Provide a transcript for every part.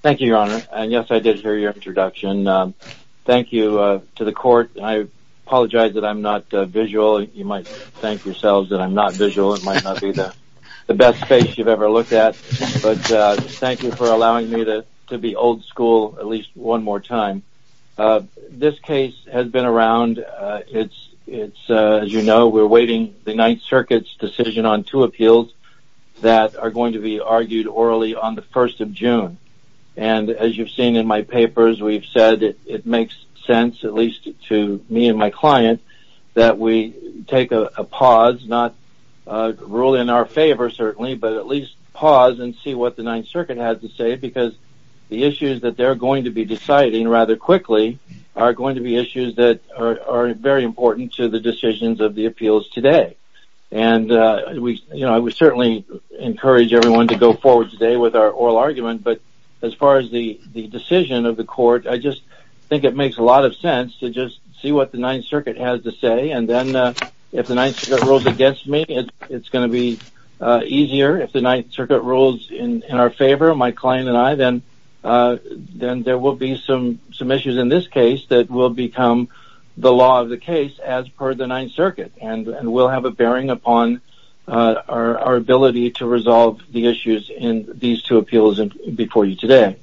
Thank you, Your Honor, and yes, I did hear your introduction. Thank you to the court, and I apologize that I'm not visual. You might thank yourselves that I'm not visual, it might not be the best face you've ever looked at, but thank you for allowing me to be old school at least one more time. This case has been around, it's, as you know, we're awaiting the Ninth Circuit's decision on two appeals that are going to be argued orally on the 1st of June. And as you've seen in my papers, we've said it makes sense, at least to me and my client, that we take a pause, not rule in our favor certainly, but at least pause and see what the Ninth Circuit has to say because the issues that they're going to be deciding rather quickly are going to be issues that are very important to the decisions of the appeals today. And we certainly encourage everyone to go forward today with our oral argument, but as far as the decision of the court, I just think it makes a lot of sense to just see what the Ninth Circuit has to say, and then if the Ninth Circuit rules against me, it's going to be easier. If the Ninth Circuit rules in our favor, my client and I, then there will be some issues in this case that will become the law of the case as per the Ninth Circuit, and we'll have a bearing upon our ability to resolve the issues in these two appeals before you today.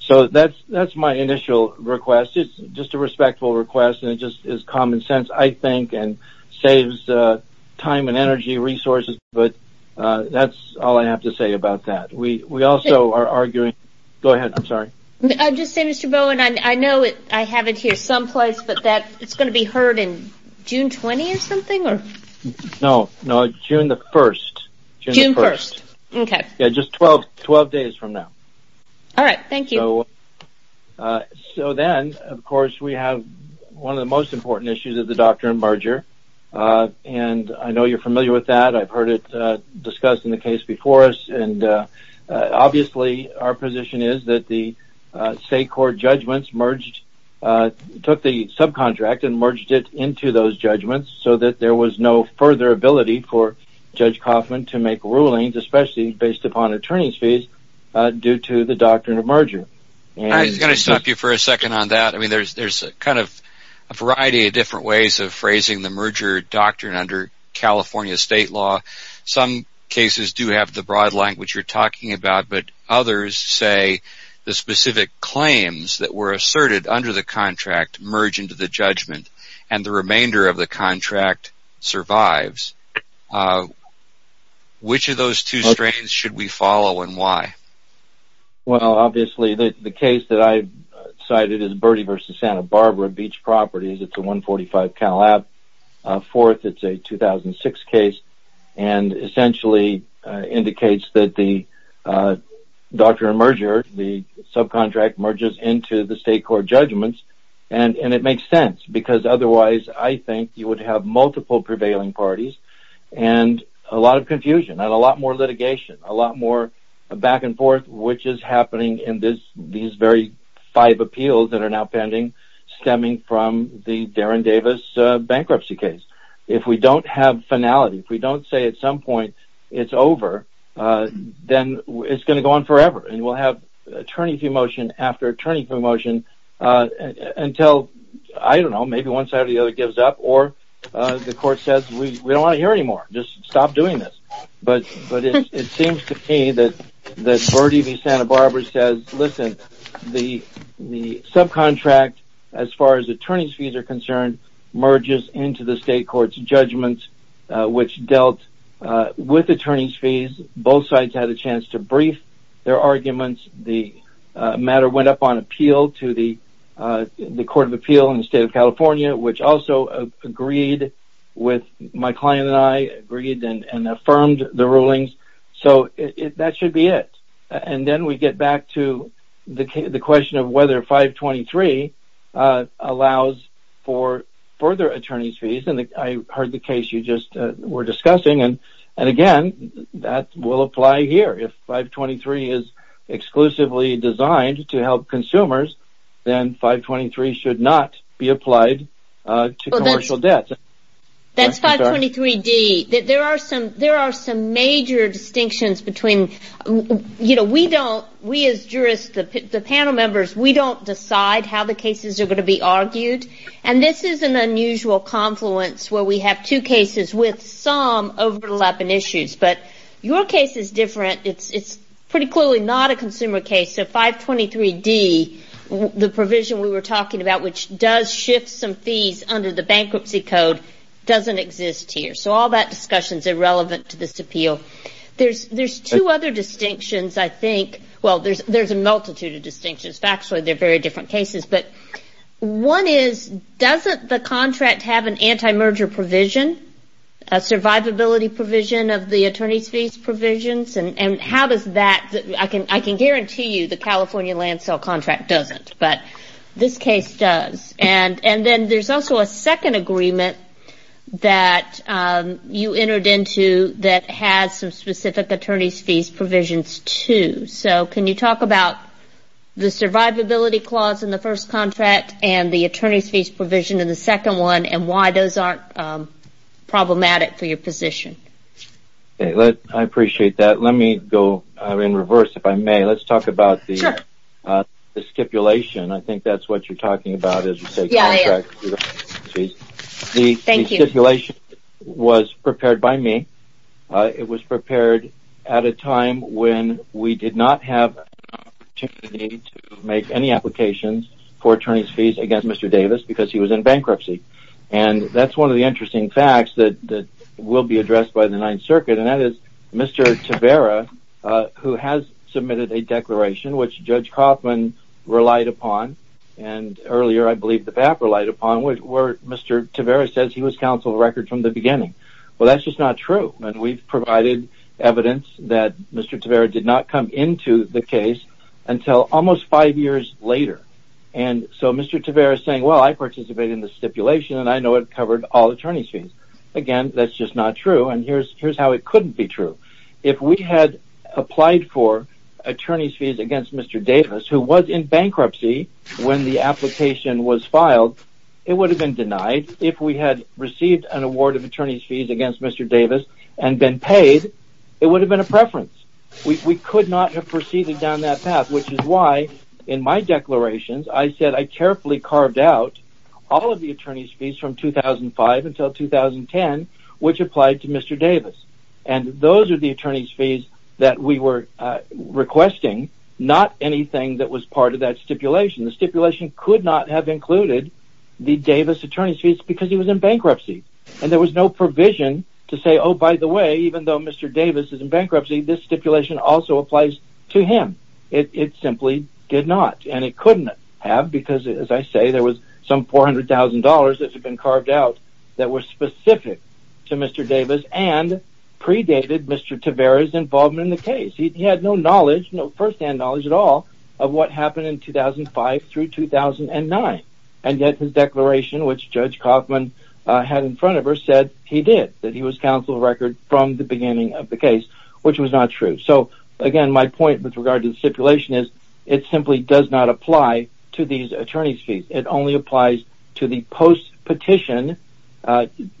So that's my initial request. It's just a respectful request, and it just is common sense, I think, and saves time and energy resources, but that's all I have to say about that. We also are arguing... Go ahead. I'm sorry. I'll just say, Mr. Bowen, I know I have it here someplace, but it's going to be heard in June 20 or something? No. No. June the 1st. June the 1st. Okay. Yeah. Just 12 days from now. All right. Thank you. So then, of course, we have one of the most important issues of the doctrine, merger, and I know you're familiar with that. I've heard it discussed in the case before us, and obviously, our position is that the merged it into those judgments so that there was no further ability for Judge Coffman to make rulings, especially based upon attorney's fees, due to the doctrine of merger. I was going to stop you for a second on that. There's a variety of different ways of phrasing the merger doctrine under California state law. Some cases do have the broad language you're talking about, but others say the specific claims that were asserted under the contract merge into the judgment, and the remainder of the contract survives. Which of those two strains should we follow, and why? Well, obviously, the case that I cited is Bertie v. Santa Barbara Beach Properties. It's a 145 Calab, a fourth, it's a 2006 case, and essentially indicates that the doctrine of merger, the subcontract, merges into the state court judgments, and it makes sense, because otherwise, I think you would have multiple prevailing parties and a lot of confusion and a lot more litigation, a lot more back and forth, which is happening in these very five appeals that are now pending, stemming from the Darren Davis bankruptcy case. If we don't have finality, if we don't say at some point it's over, then it's going to have attorney-to-motion after attorney-to-motion until, I don't know, maybe one side or the other gives up, or the court says, we don't want to hear anymore, just stop doing this. But it seems to me that Bertie v. Santa Barbara says, listen, the subcontract, as far as attorney's fees are concerned, merges into the state court's judgment, which dealt with attorney's fees. Both sides had a chance to brief their arguments. The matter went up on appeal to the court of appeal in the state of California, which also agreed with my client and I, agreed and affirmed the rulings. So that should be it. And then we get back to the question of whether 523 allows for further attorney's fees, and I heard the case you just were discussing, and again, that will apply here. If 523 is exclusively designed to help consumers, then 523 should not be applied to commercial debt. That's 523D. There are some major distinctions between, you know, we as jurists, the panel members, we don't decide how the cases are going to be argued. And this is an unusual confluence where we have two cases with some overlapping issues. But your case is different. It's pretty clearly not a consumer case, so 523D, the provision we were talking about, which does shift some fees under the bankruptcy code, doesn't exist here. So all that discussion is irrelevant to this appeal. There's two other distinctions, I think, well, there's a multitude of distinctions. Factually, they're very different cases, but one is, doesn't the contract have an anti-merger provision, a survivability provision of the attorney's fees provisions? And how does that, I can guarantee you the California land sale contract doesn't, but this case does. And then there's also a second agreement that you entered into that has some specific attorney's fees provisions too. So can you talk about the survivability clause in the first contract and the attorney's fees provision in the second one, and why those aren't problematic for your position? I appreciate that. Let me go in reverse, if I may. Let's talk about the stipulation. I think that's what you're talking about as you say contract fees. The stipulation was prepared by me. It was prepared at a time when we did not have an opportunity to make any applications for attorney's fees against Mr. Davis because he was in bankruptcy. And that's one of the interesting facts that will be addressed by the Ninth Circuit, and that is Mr. Tavara, who has submitted a declaration, which Judge Kaufman relied upon, and earlier I believe the PAP relied upon, where Mr. Tavara says he was counsel of record from the beginning. Well, that's just not true. And we've provided evidence that Mr. Tavara did not come into the case until almost five years later. And so Mr. Tavara is saying, well, I participated in the stipulation and I know it covered all attorney's fees. Again, that's just not true. And here's how it couldn't be true. If we had applied for attorney's fees against Mr. Davis, who was in bankruptcy when the application was filed, it would have been denied. If we had received an award of attorney's fees against Mr. Davis and been paid, it would have been a preference. We could not have proceeded down that path, which is why in my declarations I said I carefully carved out all of the attorney's fees from 2005 until 2010, which applied to Mr. Davis. And those are the attorney's fees that we were requesting, not anything that was part of that stipulation. The stipulation could not have included the Davis attorney's fees because he was in bankruptcy and there was no provision to say, oh, by the way, even though Mr. Davis is in bankruptcy, this stipulation also applies to him. It simply did not. And it couldn't have because, as I say, there was some $400,000 that had been carved out that were specific to Mr. Davis and predated Mr. Tavara's involvement in the case. He had no knowledge, no first-hand knowledge at all, of what happened in 2005 through 2009. And yet his declaration, which Judge Kaufman had in front of her, said he did, that he was counsel of record from the beginning of the case, which was not true. So again, my point with regard to the stipulation is it simply does not apply to these attorney's fees. It only applies to the post-petition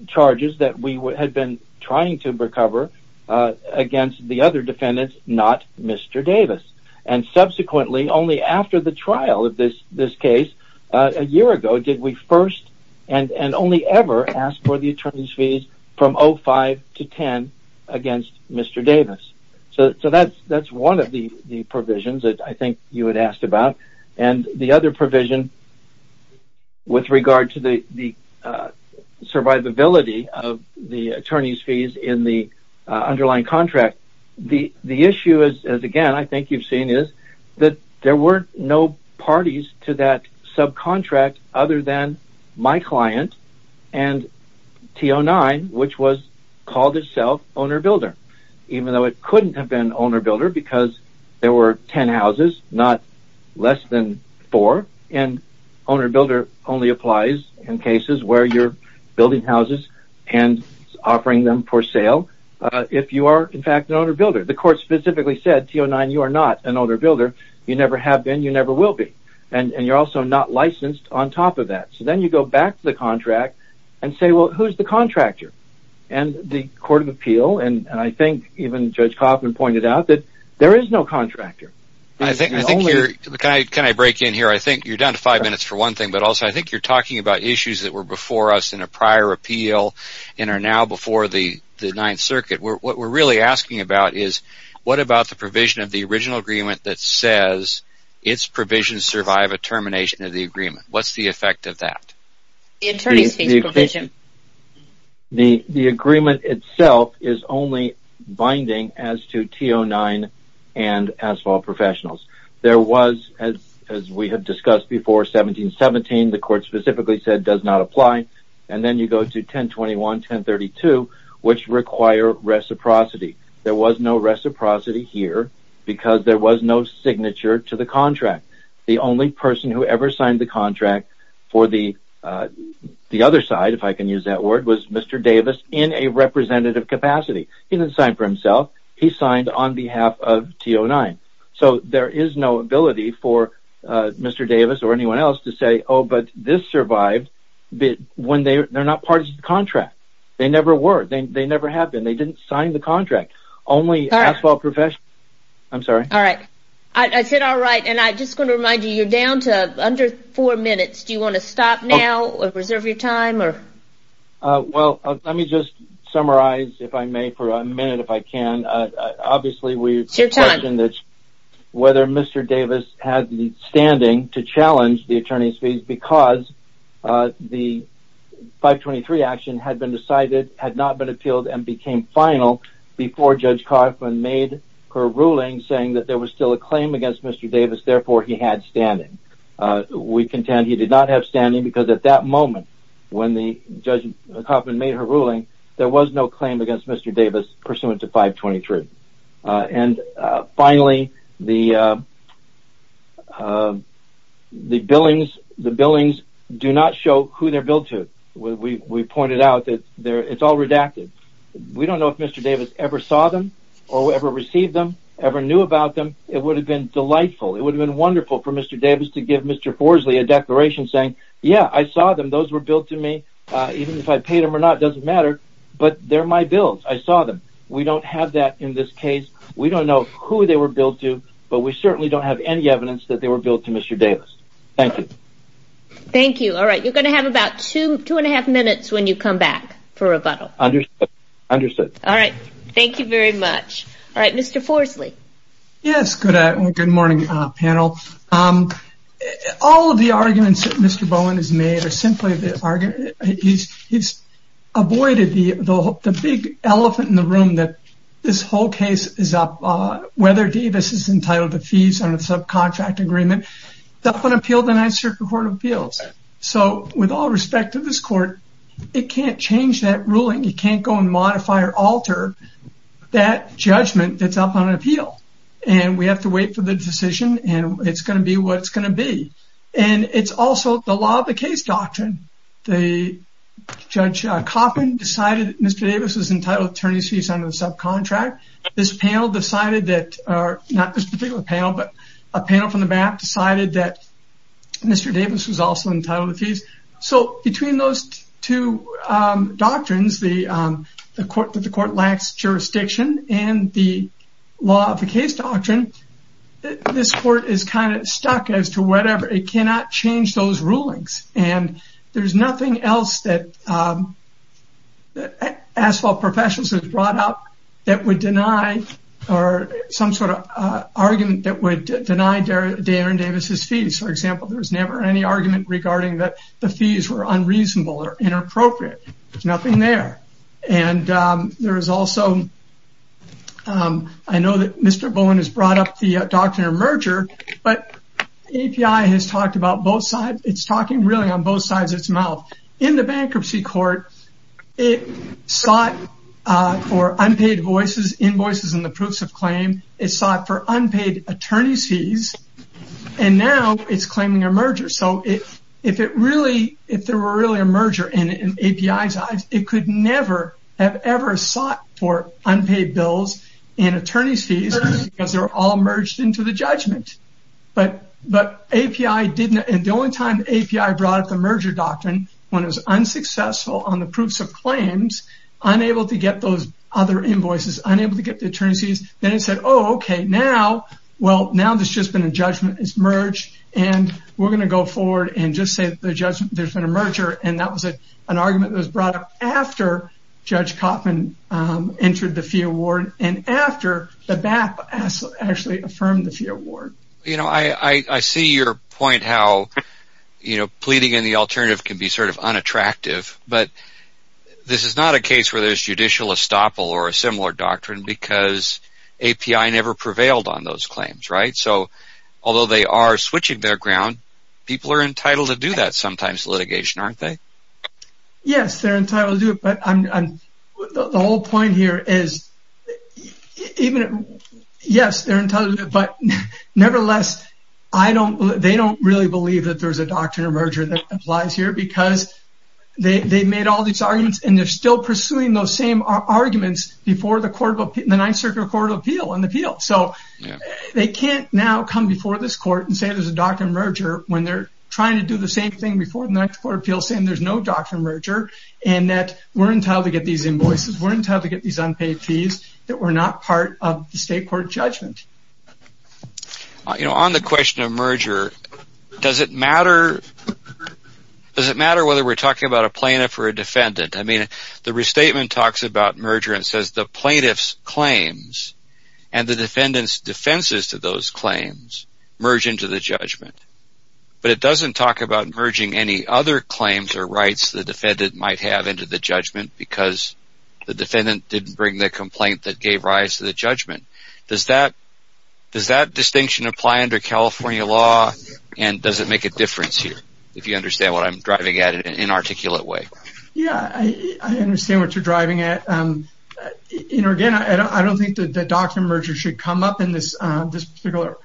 charges that we had been trying to recover against the other defendants, not Mr. Davis. And subsequently, only after the trial of this case, a year ago, did we first and only ever ask for the attorney's fees from 05 to 10 against Mr. Davis. So that's one of the provisions that I think you had asked about. And the other provision with regard to the survivability of the attorney's fees in the case, the issue is, again, I think you've seen is that there were no parties to that subcontract other than my client and T09, which was called itself owner-builder, even though it couldn't have been owner-builder because there were 10 houses, not less than 4. And owner-builder only applies in cases where you're building houses and offering them for sale. If you are, in fact, an owner-builder. The court specifically said, T09, you are not an owner-builder. You never have been. You never will be. And you're also not licensed on top of that. So then you go back to the contract and say, well, who's the contractor? And the court of appeal, and I think even Judge Kaufman pointed out that there is no contractor. I think you're... Can I break in here? I think you're down to five minutes for one thing, but also I think you're talking about us in a prior appeal and are now before the Ninth Circuit. What we're really asking about is what about the provision of the original agreement that says its provisions survive a termination of the agreement? What's the effect of that? The attorney's case provision. The agreement itself is only binding as to T09 and asphalt professionals. There was, as we have discussed before, 1717, the court specifically said does not apply. And then you go to 1021, 1032, which require reciprocity. There was no reciprocity here because there was no signature to the contract. The only person who ever signed the contract for the other side, if I can use that word, was Mr. Davis in a representative capacity. He didn't sign for himself. He signed on behalf of T09. So there is no ability for Mr. Davis or anyone else to say, oh, but this survived when they're not part of the contract. They never were. They never have been. They didn't sign the contract. Only asphalt professionals. I'm sorry. All right. I said all right, and I'm just going to remind you, you're down to under four minutes. Do you want to stop now or reserve your time or... Well, let me just summarize, if I may, for a minute if I can. Obviously we... Whether Mr. Davis had the standing to challenge the attorney's fees because the 523 action had been decided, had not been appealed, and became final before Judge Kaufman made her ruling saying that there was still a claim against Mr. Davis, therefore he had standing. We contend he did not have standing because at that moment when Judge Kaufman made her ruling, there was no claim against Mr. Davis pursuant to 523. And finally, the billings do not show who they're billed to. We pointed out that it's all redacted. We don't know if Mr. Davis ever saw them or ever received them, ever knew about them. It would have been delightful. It would have been wonderful for Mr. Davis to give Mr. Forsley a declaration saying, yeah, I saw them. Those were billed to me. Even if I paid them or not, it doesn't matter, but they're my bills. I saw them. We don't have that in this case. We don't know who they were billed to, but we certainly don't have any evidence that they were billed to Mr. Davis. Thank you. Thank you. All right. You're going to have about two, two and a half minutes when you come back for rebuttal. Understood. Understood. All right. Thank you very much. All right. Mr. Forsley. Yes. Good morning, panel. All of the arguments that Mr. Bowen has made are simply that he's avoided the big elephant in the room that this whole case is up, whether Davis is entitled to fees on a subcontract agreement, it's up on appeal of the Ninth Circuit Court of Appeals. With all respect to this court, it can't change that ruling. It can't go and modify or alter that judgment that's up on appeal. We have to wait for the decision, and it's going to be what it's going to be. It's also the law of the case doctrine. The Judge Coffin decided that Mr. Davis was entitled to attorney's fees under the subcontract. This panel decided that, not this particular panel, but a panel from the map decided that Mr. Davis was also entitled to fees. Between those two doctrines, the court that the court lacks jurisdiction and the law of the case doctrine, this court is kind of stuck as to whatever, it cannot change those rulings. There's nothing else that Asphalt Professionals has brought up that would deny, or some sort of argument that would deny Darren Davis' fees. For example, there was never any argument regarding that the fees were unreasonable or inappropriate, there's nothing there. I know that Mr. Bowen has brought up the doctrine of merger, but API has talked about both sides. It's talking really on both sides of its mouth. In the bankruptcy court, it sought for unpaid invoices and the proofs of claim. It sought for unpaid attorney's fees, and now it's claiming a merger. So, if there were really a merger in API's eyes, it could never have ever sought for unpaid bills and attorney's fees, because they were all merged into the judgment. But API didn't, and the only time API brought up the merger doctrine, when it was unsuccessful on the proofs of claims, unable to get those other invoices, unable to get the attorney's fees, then it said, oh, okay, now, well, now there's just been a judgment, it's merged, and we're going to go forward and just say that there's been a merger, and that was an argument that was brought up after Judge Koffman entered the fee award, and after the BAP actually affirmed the fee award. You know, I see your point, how pleading in the alternative can be sort of unattractive, but this is not a case where there's judicial estoppel or a similar doctrine, because API never prevailed on those claims, right? So, although they are switching their ground, people are entitled to do that sometimes, litigation, aren't they? Yes, they're entitled to do it, but the whole point here is, yes, they're entitled to do it, but nevertheless, they don't really believe that there's a doctrine of merger that applies here because they've made all these arguments, and they're still pursuing those same arguments before the Ninth Circuit Court of Appeal on the appeal, so they can't now come before this court and say there's a doctrine of merger when they're trying to do the same thing before the Ninth Court of Appeal saying there's no doctrine of merger, and that we're entitled to get these invoices, we're entitled to get these unpaid fees that were not part of the You know, on the question of merger, does it matter whether we're talking about a plaintiff or a defendant? I mean, the restatement talks about merger and says the plaintiff's claims and the defendant's defenses to those claims merge into the judgment, but it doesn't talk about merging any other claims or rights the defendant might have into the judgment because the defendant didn't bring the complaint that gave rise to the judgment. Does that distinction apply under California law, and does it make a difference here, if you understand what I'm driving at in an inarticulate way? Yeah, I understand what you're driving at. You know, again, I don't think the doctrine of merger should come up in this particular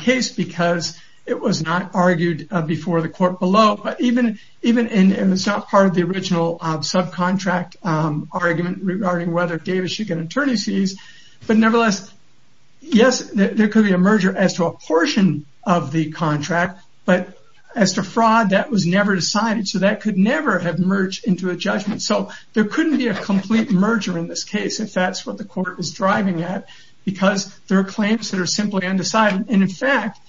case because it was not argued before the court below, but even in the subpart of the original subcontract argument regarding whether Davis should get attorney's fees, but nevertheless yes, there could be a merger as to a portion of the contract, but as to fraud, that was never decided, so that could never have merged into a judgment. So there couldn't be a complete merger in this case if that's what the court is driving at because there are claims that are simply undecided, and in fact,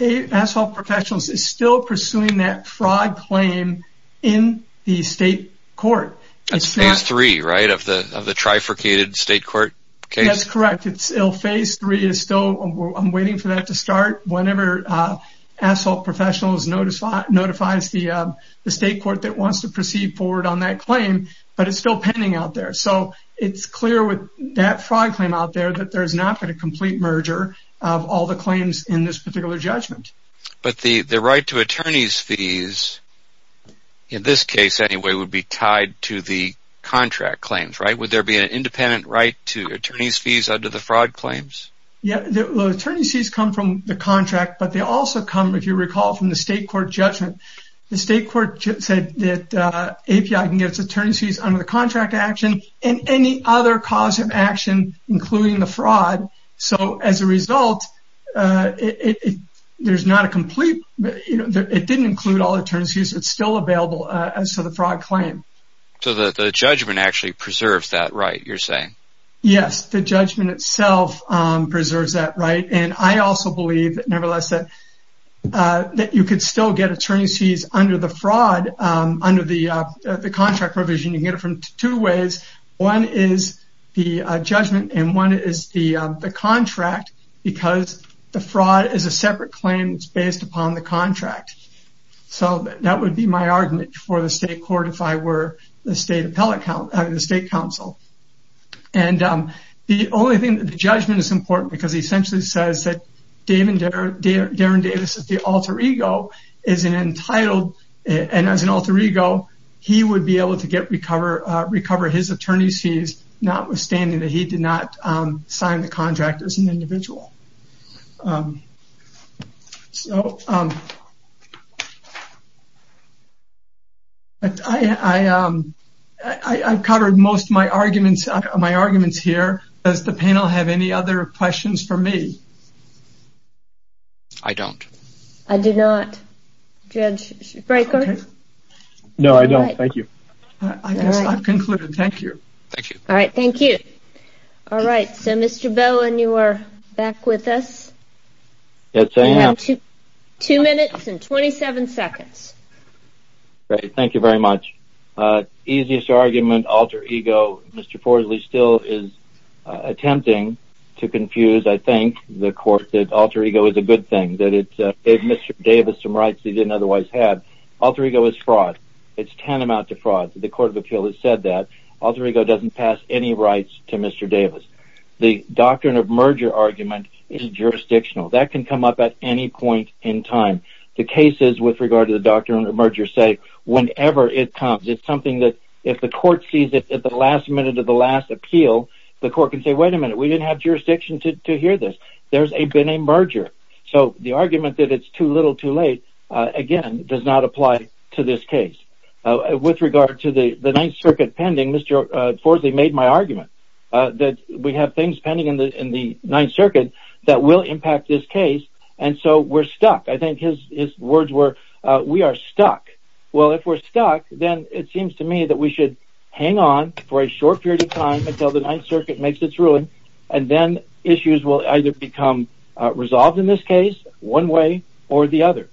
Asphalt Professionals is still pursuing that fraud claim in the state court. That's phase three, right, of the trifurcated state court case? That's correct. Phase three is still, I'm waiting for that to start, whenever Asphalt Professionals notifies the state court that wants to proceed forward on that claim, but it's still pending out there. So it's clear with that fraud claim out there that there's not going to be a complete merger of all the claims in this particular judgment. But the right to attorney's fees, in this case anyway, would be tied to the contract claims, right? Would there be an independent right to attorney's fees under the fraud claims? Yeah, the attorney's fees come from the contract, but they also come, if you recall, from the state court judgment. The state court said that API can get its attorney's fees under the contract action and any other cause of action, including the fraud. So as a result, it didn't include all the attorney's fees. It's still available as to the fraud claim. So the judgment actually preserves that right, you're saying? Yes, the judgment itself preserves that right. And I also believe, nevertheless, that you could still get attorney's fees under the fraud, under the contract provision. You can get it from two ways. One is the judgment and one is the contract because the fraud is a separate claim that's based upon the contract. So that would be my argument for the state court if I were the state appellate, the state counsel. And the only thing, the judgment is important because it essentially says that Darren Davis at the alter ego is entitled, and as an alter ego, he would be able to recover his attorney's fees notwithstanding that he did not sign the contract as an individual. So I've covered most of my arguments here. Does the panel have any other questions for me? I don't. I do not. Judge Brekker? No, I don't. Thank you. I guess I've concluded. Thank you. Thank you. All right. Thank you. All right. So Mr. Bowen, you are back with us? Yes, I am. You have two minutes and 27 seconds. Great. Thank you very much. Easiest argument, alter ego. Mr. Forsley still is attempting to confuse, I think, the court that alter ego is a good thing, that it gave Mr. Davis some rights he didn't otherwise have. Alter ego is fraud. It's tantamount to fraud. The Court of Appeals has said that. Alter ego doesn't pass any rights to Mr. Davis. The doctrine of merger argument is jurisdictional. That can come up at any point in time. The cases with regard to the doctrine of merger say whenever it comes. It's something that if the court sees it at the last minute of the last appeal, the court can say, wait a minute, we didn't have jurisdiction to hear this. There's been a merger. So the argument that it's too little too late, again, does not apply to this case. With regard to the Ninth Circuit pending, Mr. Forsley made my argument that we have things pending in the Ninth Circuit that will impact this case, and so we're stuck. I think his words were, we are stuck. Well, if we're stuck, then it seems to me that we should hang on for a short period of time until the Ninth Circuit makes its ruling, and then issues will either become resolved in this case one way or the other.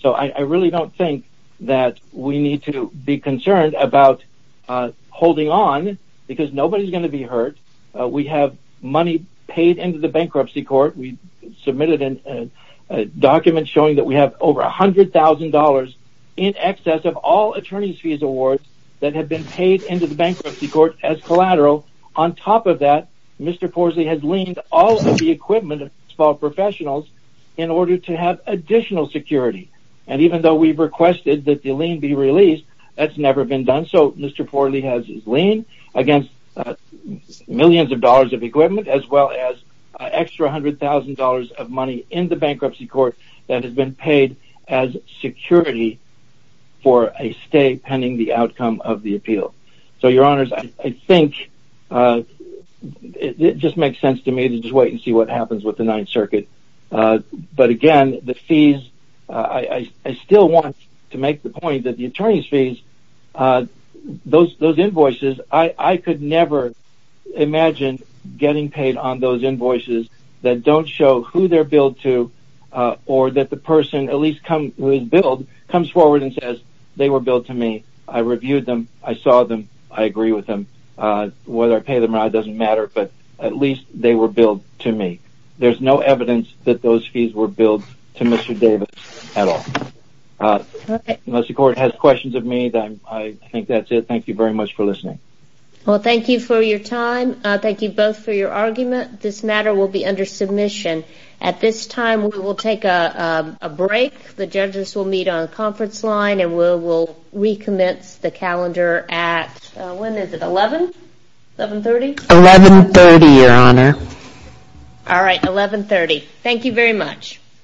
So I really don't think that we need to be concerned about holding on because nobody is going to be hurt. We have money paid into the bankruptcy court. We submitted a document showing that we have over $100,000 in excess of all attorney's fees awards that have been paid into the bankruptcy court as collateral. On top of that, Mr. Forsley has leaned all of the equipment of small professionals in order to have additional security. And even though we've requested that the lien be released, that's never been done. So Mr. Forsley has his lien against millions of dollars of equipment as well as an extra $100,000 of money in the bankruptcy court that has been paid as security for a stay pending the outcome of the appeal. So, Your Honors, I think it just makes sense to me to just wait and see what happens with the Ninth Circuit. But again, the fees, I still want to make the point that the attorney's fees, those invoices, I could never imagine getting paid on those invoices that don't show who they're billed to or that the person who is billed comes forward and says, they were billed to me. I reviewed them. I saw them. I agree with them. Whether I pay them or not doesn't matter, but at least they were billed to me. There's no evidence that those fees were billed to Mr. Davis at all. Unless the court has questions of me, I think that's it. Thank you very much for listening. Well, thank you for your time. Thank you both for your argument. This matter will be under submission. At this time, we will take a break. The judges will meet on the conference line and we'll recommence the calendar at, when is it, 11? 1130? 1130, Your Honor. All right, 1130. Thank you very much.